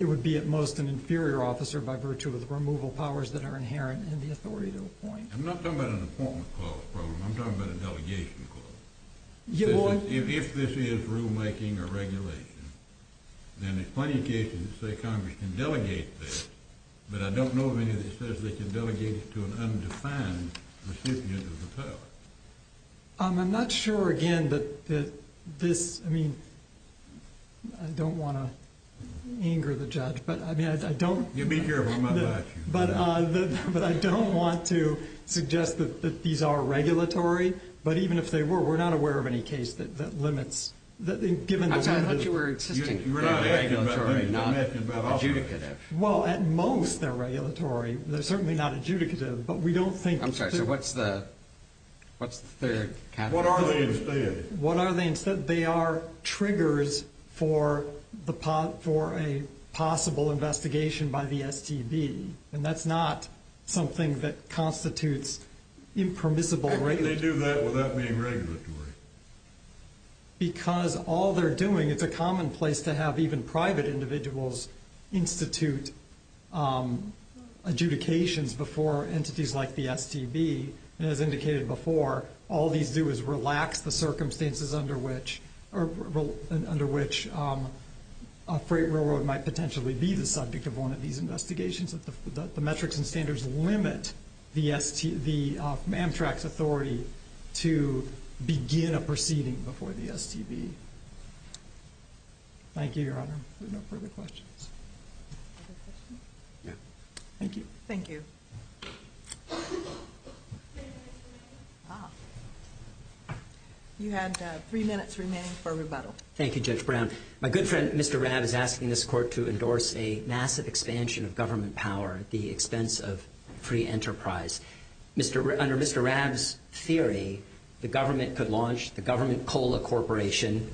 it would be at most an inferior officer by virtue of the removal powers that are inherent in the authority to appoint. I'm not talking about an appointment clause program. I'm talking about a delegation clause. If this is rulemaking or regulation, then there's plenty of cases that say Congress can delegate this, but I don't know of any that says they can delegate it to an undefined recipient of the power. I'm not sure, again, that this—I mean, I don't want to anger the judge, but, I mean, I don't— You'd be careful. He might bite you. But I don't want to suggest that these are regulatory, but even if they were, we're not aware of any case that limits— I thought you were insisting they were regulatory, not adjudicative. Well, at most they're regulatory. They're certainly not adjudicative, but we don't think— I'm sorry. So what's the third category? What are they instead? They are triggers for a possible investigation by the STB, and that's not something that constitutes impermissible regulation. How can they do that without being regulatory? Because all they're doing—it's a commonplace to have even private individuals institute adjudications before entities like the STB. And as indicated before, all these do is relax the circumstances under which a freight railroad might potentially be the subject of one of these investigations. The metrics and standards limit the Amtrak's authority to begin a proceeding before the STB. Thank you, Your Honor. Are there no further questions? Other questions? Yeah. Thank you. Thank you. You have three minutes remaining for rebuttal. Thank you, Judge Brown. My good friend, Mr. Rabb, is asking this Court to endorse a massive expansion of government power at the expense of free enterprise. Under Mr. Rabb's theory, the government could launch the Government Cola Corporation,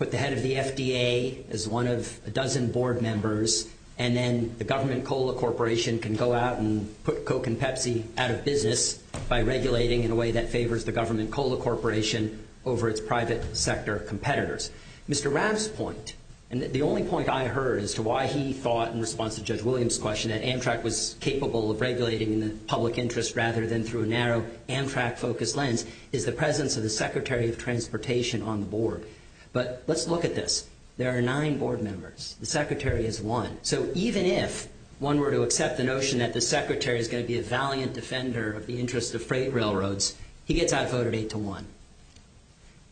put the head of the FDA as one of a dozen board members, and then the Government Cola Corporation can go out and put Coke and Pepsi out of business by regulating in a way that favors the Government Cola Corporation over its private sector competitors. Mr. Rabb's point, and the only point I heard as to why he thought, in response to Judge Williams' question, that Amtrak was capable of regulating in the public interest rather than through a narrow Amtrak-focused lens, is the presence of the Secretary of Transportation on the board. But let's look at this. There are nine board members. The Secretary is one. So even if one were to accept the notion that the Secretary is going to be a valiant defender of the interests of freight railroads, he gets outvoted eight to one.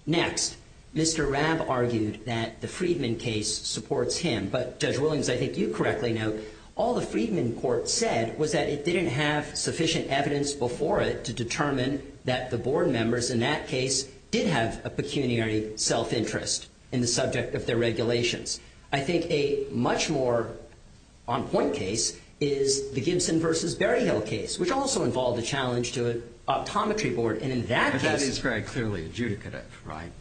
Next, Mr. Rabb argued that the Friedman case supports him. But, Judge Williams, I think you correctly know, all the Friedman court said was that it didn't have sufficient evidence before it to determine that the board members in that case did have a pecuniary self-interest in the subject of their regulations. I think a much more on-point case is the Gibson v. Berryhill case, which also involved a challenge to an optometry board. And in that case – But that is very clearly adjudicative, right?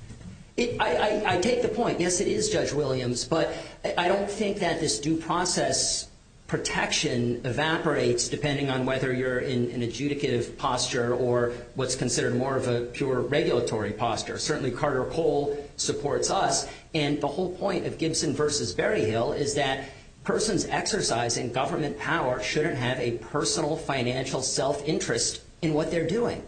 I take the point. Yes, it is, Judge Williams. But I don't think that this due process protection evaporates depending on whether you're in an adjudicative posture or what's considered more of a pure regulatory posture. Certainly Carter Cole supports us. And the whole point of Gibson v. Berryhill is that persons exercising government power shouldn't have a personal financial self-interest in what they're doing.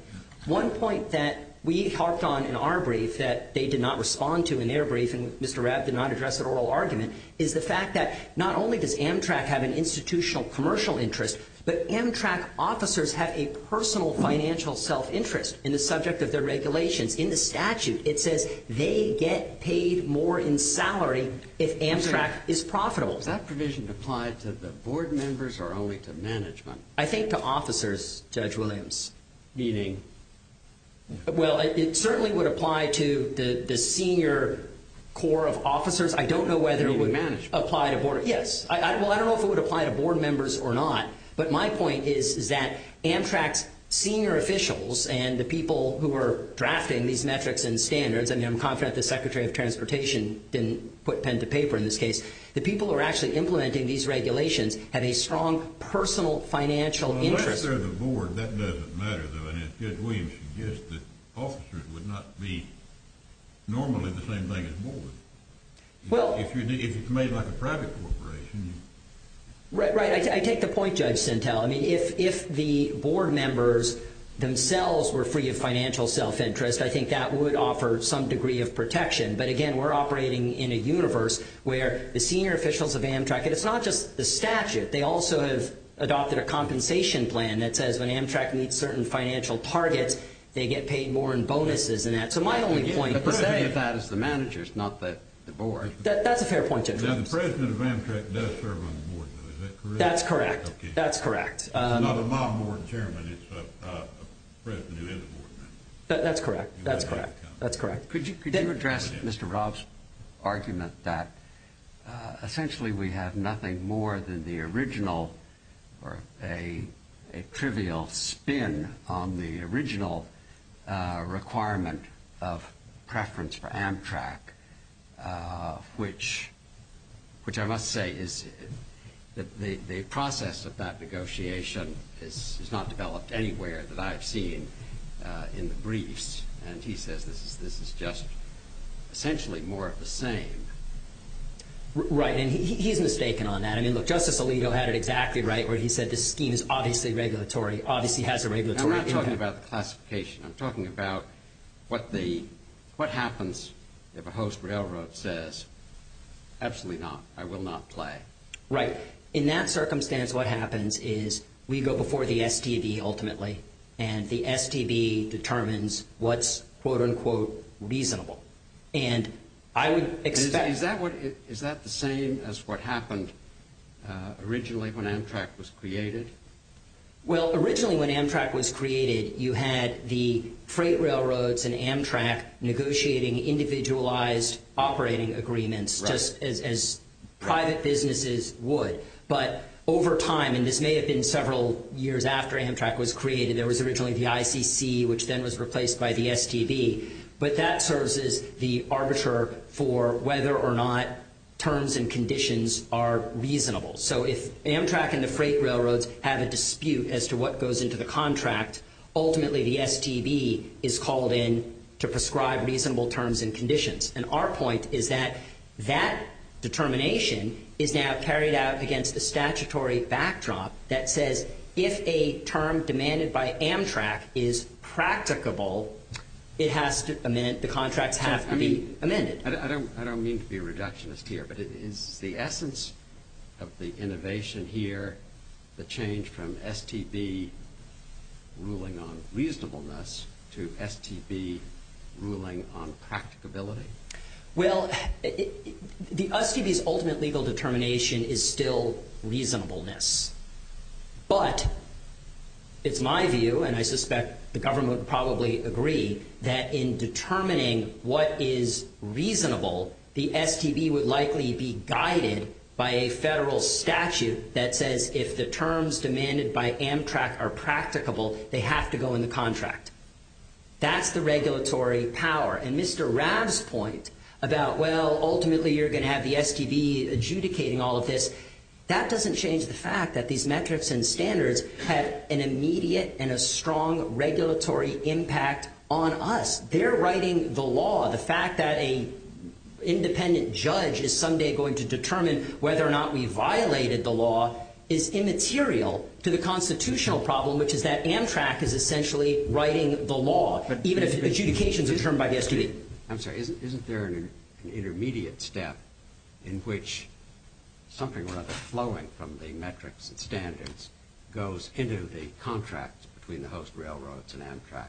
One point that we harped on in our brief that they did not respond to in their brief and Mr. Rabb did not address at oral argument is the fact that not only does Amtrak have an institutional commercial interest, but Amtrak officers have a personal financial self-interest in the subject of their regulations, in the statute it says they get paid more in salary if Amtrak is profitable. Does that provision apply to the board members or only to management? I think to officers, Judge Williams. Meaning? Well, it certainly would apply to the senior core of officers. I don't know whether it would – Meaning management. Yes. Well, I don't know if it would apply to board members or not. But my point is that Amtrak's senior officials and the people who are drafting these metrics and standards, and I'm confident the Secretary of Transportation didn't put pen to paper in this case, the people who are actually implementing these regulations have a strong personal financial interest. Unless they're the board, that doesn't matter though. And Judge Williams, you guessed that officers would not be normally the same thing as board. Well. If it's made like a private corporation. Right. I take the point, Judge Sentelle. I mean, if the board members themselves were free of financial self-interest, I think that would offer some degree of protection. But, again, we're operating in a universe where the senior officials of Amtrak – and it's not just the statute. They also have adopted a compensation plan that says when Amtrak meets certain financial targets, they get paid more in bonuses and that. So my only point is that – The point of that is the managers, not the board. That's a fair point, Judge Williams. Now, the president of Amtrak does serve on the board, though, is that correct? That's correct. That's correct. It's not a mob board chairman. It's a president who is a board member. That's correct. That's correct. That's correct. Could you address Mr. Robb's argument that essentially we have nothing more than the original or a trivial spin on the original requirement of preference for Amtrak, which I must say is that the process of that negotiation is not developed anywhere that I've seen in the briefs. And he says this is just essentially more of the same. Right. And he's mistaken on that. I mean, look, Justice Alito had it exactly right where he said this scheme is obviously regulatory, obviously has a regulatory impact. I'm not talking about the classification. I'm talking about what happens if a host railroad says absolutely not, I will not play. Right. In that circumstance, what happens is we go before the STB ultimately, and the STB determines what's quote, unquote, reasonable. And I would expect. Is that the same as what happened originally when Amtrak was created? Well, originally when Amtrak was created, you had the freight railroads and Amtrak negotiating individualized operating agreements just as private businesses would. But over time, and this may have been several years after Amtrak was created, there was originally the ICC, which then was replaced by the STB. But that serves as the arbiter for whether or not terms and conditions are reasonable. So if Amtrak and the freight railroads have a dispute as to what goes into the contract, ultimately the STB is called in to prescribe reasonable terms and conditions. And our point is that that determination is now carried out against the statutory backdrop that says if a term demanded by Amtrak is practicable, the contracts have to be amended. I don't mean to be a reductionist here, but is the essence of the innovation here the change from STB ruling on reasonableness to STB ruling on practicability? Well, the STB's ultimate legal determination is still reasonableness. But it's my view, and I suspect the government would probably agree, that in determining what is reasonable, the STB would likely be guided by a federal statute that says if the terms demanded by Amtrak are practicable, they have to go in the contract. That's the regulatory power. And Mr. Raab's point about, well, ultimately you're going to have the STB adjudicating all of this, that doesn't change the fact that these metrics and standards have an immediate and a strong regulatory impact on us. They're writing the law. The fact that an independent judge is someday going to determine whether or not we violated the law is immaterial to the constitutional problem, which is that Amtrak is essentially writing the law, even if adjudications are determined by the STB. I'm sorry. Isn't there an intermediate step in which something rather flowing from the metrics and standards goes into the contract between the host railroads and Amtrak?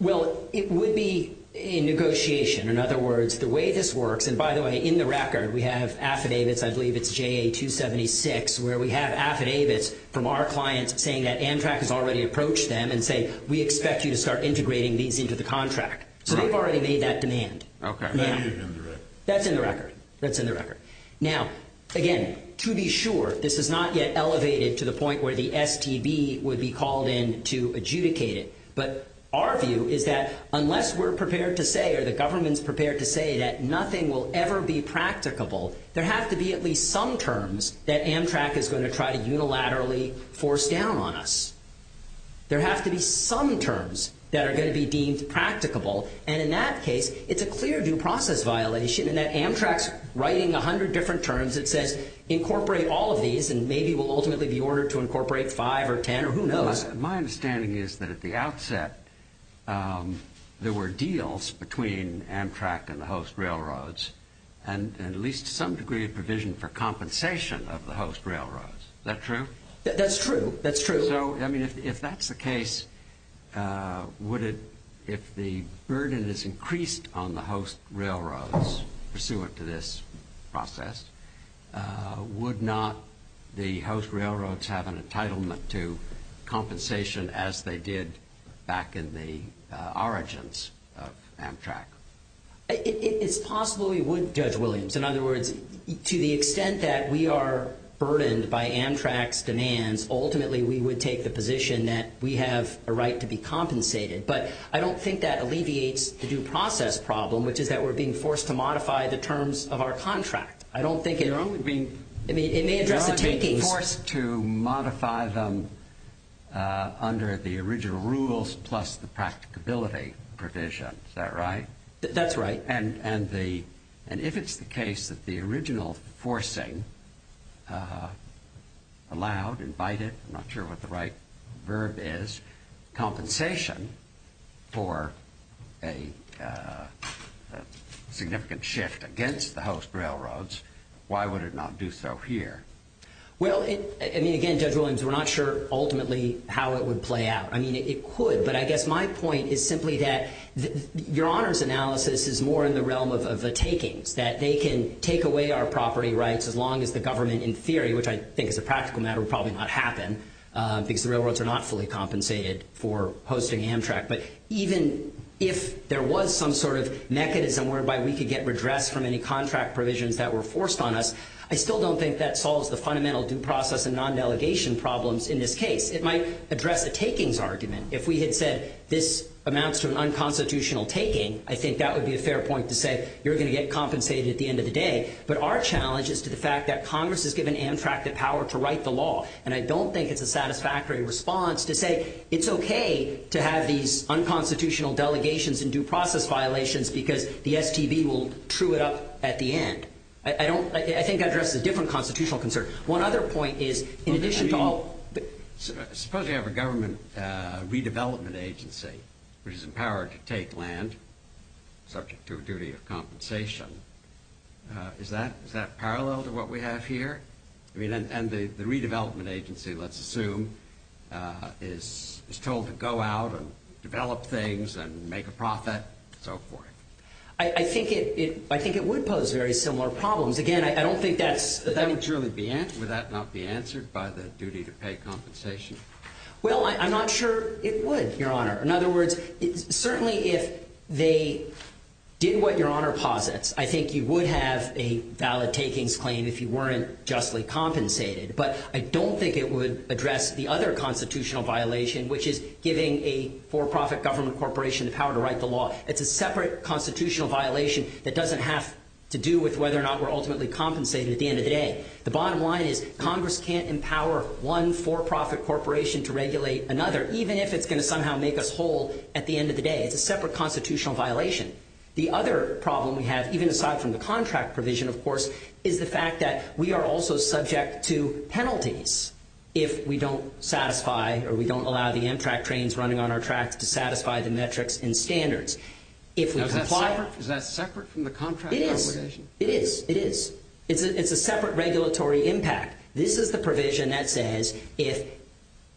Well, it would be a negotiation. In other words, the way this works, and by the way, in the record we have affidavits. I believe it's JA-276 where we have affidavits from our clients saying that Amtrak has already approached them and say we expect you to start integrating these into the contract. So they've already made that demand. Okay. That's in the record. That's in the record. Now, again, to be sure, this is not yet elevated to the point where the STB would be called in to adjudicate it. But our view is that unless we're prepared to say or the government's prepared to say that nothing will ever be practicable, there have to be at least some terms that Amtrak is going to try to unilaterally force down on us. There have to be some terms that are going to be deemed practicable. And in that case, it's a clear due process violation in that Amtrak's writing 100 different terms. It says incorporate all of these and maybe we'll ultimately be ordered to incorporate 5 or 10 or who knows. My understanding is that at the outset there were deals between Amtrak and the host railroads and at least some degree of provision for compensation of the host railroads. Is that true? That's true. That's true. So, I mean, if that's the case, if the burden is increased on the host railroads pursuant to this process, would not the host railroads have an entitlement to compensation as they did back in the origins of Amtrak? It's possible we would, Judge Williams. In other words, to the extent that we are burdened by Amtrak's demands, ultimately we would take the position that we have a right to be compensated. But I don't think that alleviates the due process problem, which is that we're being forced to modify the terms of our contract. I don't think it – You're only being – I mean, it may address the takings. You're only being forced to modify them under the original rules plus the practicability provision. Is that right? That's right. And if it's the case that the original forcing allowed, invited – I'm not sure what the right verb is – compensation for a significant shift against the host railroads, why would it not do so here? Well, I mean, again, Judge Williams, we're not sure ultimately how it would play out. I mean, it could, but I guess my point is simply that your honors analysis is more in the realm of the takings, that they can take away our property rights as long as the government, in theory, which I think is a practical matter, would probably not happen because the railroads are not fully compensated for hosting Amtrak. But even if there was some sort of mechanism whereby we could get redress from any contract provisions that were forced on us, I still don't think that solves the fundamental due process and non-delegation problems in this case. It might address a takings argument. If we had said this amounts to an unconstitutional taking, I think that would be a fair point to say, you're going to get compensated at the end of the day. But our challenge is to the fact that Congress has given Amtrak the power to write the law, and I don't think it's a satisfactory response to say it's okay to have these unconstitutional delegations and due process violations because the STB will true it up at the end. I think that addresses a different constitutional concern. One other point is in addition to all... Suppose you have a government redevelopment agency which is empowered to take land subject to a duty of compensation. Is that parallel to what we have here? I mean, and the redevelopment agency, let's assume, is told to go out and develop things and make a profit and so forth. I think it would pose very similar problems. Again, I don't think that's... Would that not be answered by the duty to pay compensation? Well, I'm not sure it would, Your Honor. In other words, certainly if they did what Your Honor posits, I think you would have a valid takings claim if you weren't justly compensated. But I don't think it would address the other constitutional violation, which is giving a for-profit government corporation the power to write the law. It's a separate constitutional violation that doesn't have to do with whether or not we're ultimately compensated at the end of the day. The bottom line is Congress can't empower one for-profit corporation to regulate another, even if it's going to somehow make us whole at the end of the day. It's a separate constitutional violation. The other problem we have, even aside from the contract provision, of course, is the fact that we are also subject to penalties if we don't satisfy or we don't allow the Amtrak trains running on our tracks to satisfy the metrics and standards. Is that separate from the contract? It is. It is. It is. It's a separate regulatory impact. This is the provision that says if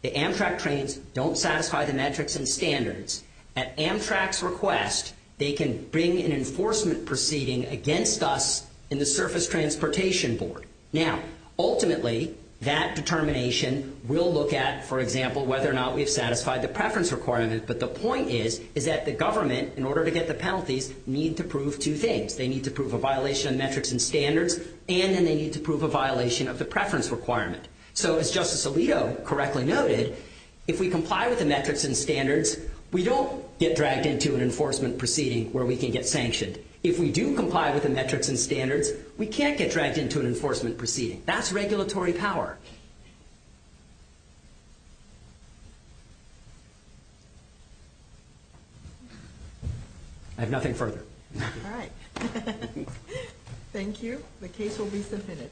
the Amtrak trains don't satisfy the metrics and standards, at Amtrak's request, they can bring an enforcement proceeding against us in the Surface Transportation Board. Now, ultimately, that determination will look at, for example, whether or not we've satisfied the preference requirement, but the point is is that the government, in order to get the penalties, need to prove two things. They need to prove a violation of metrics and standards, and then they need to prove a violation of the preference requirement. So as Justice Alito correctly noted, if we comply with the metrics and standards, we don't get dragged into an enforcement proceeding where we can get sanctioned. If we do comply with the metrics and standards, we can't get dragged into an enforcement proceeding. That's regulatory power. I have nothing further. All right. Thank you. The case will be submitted.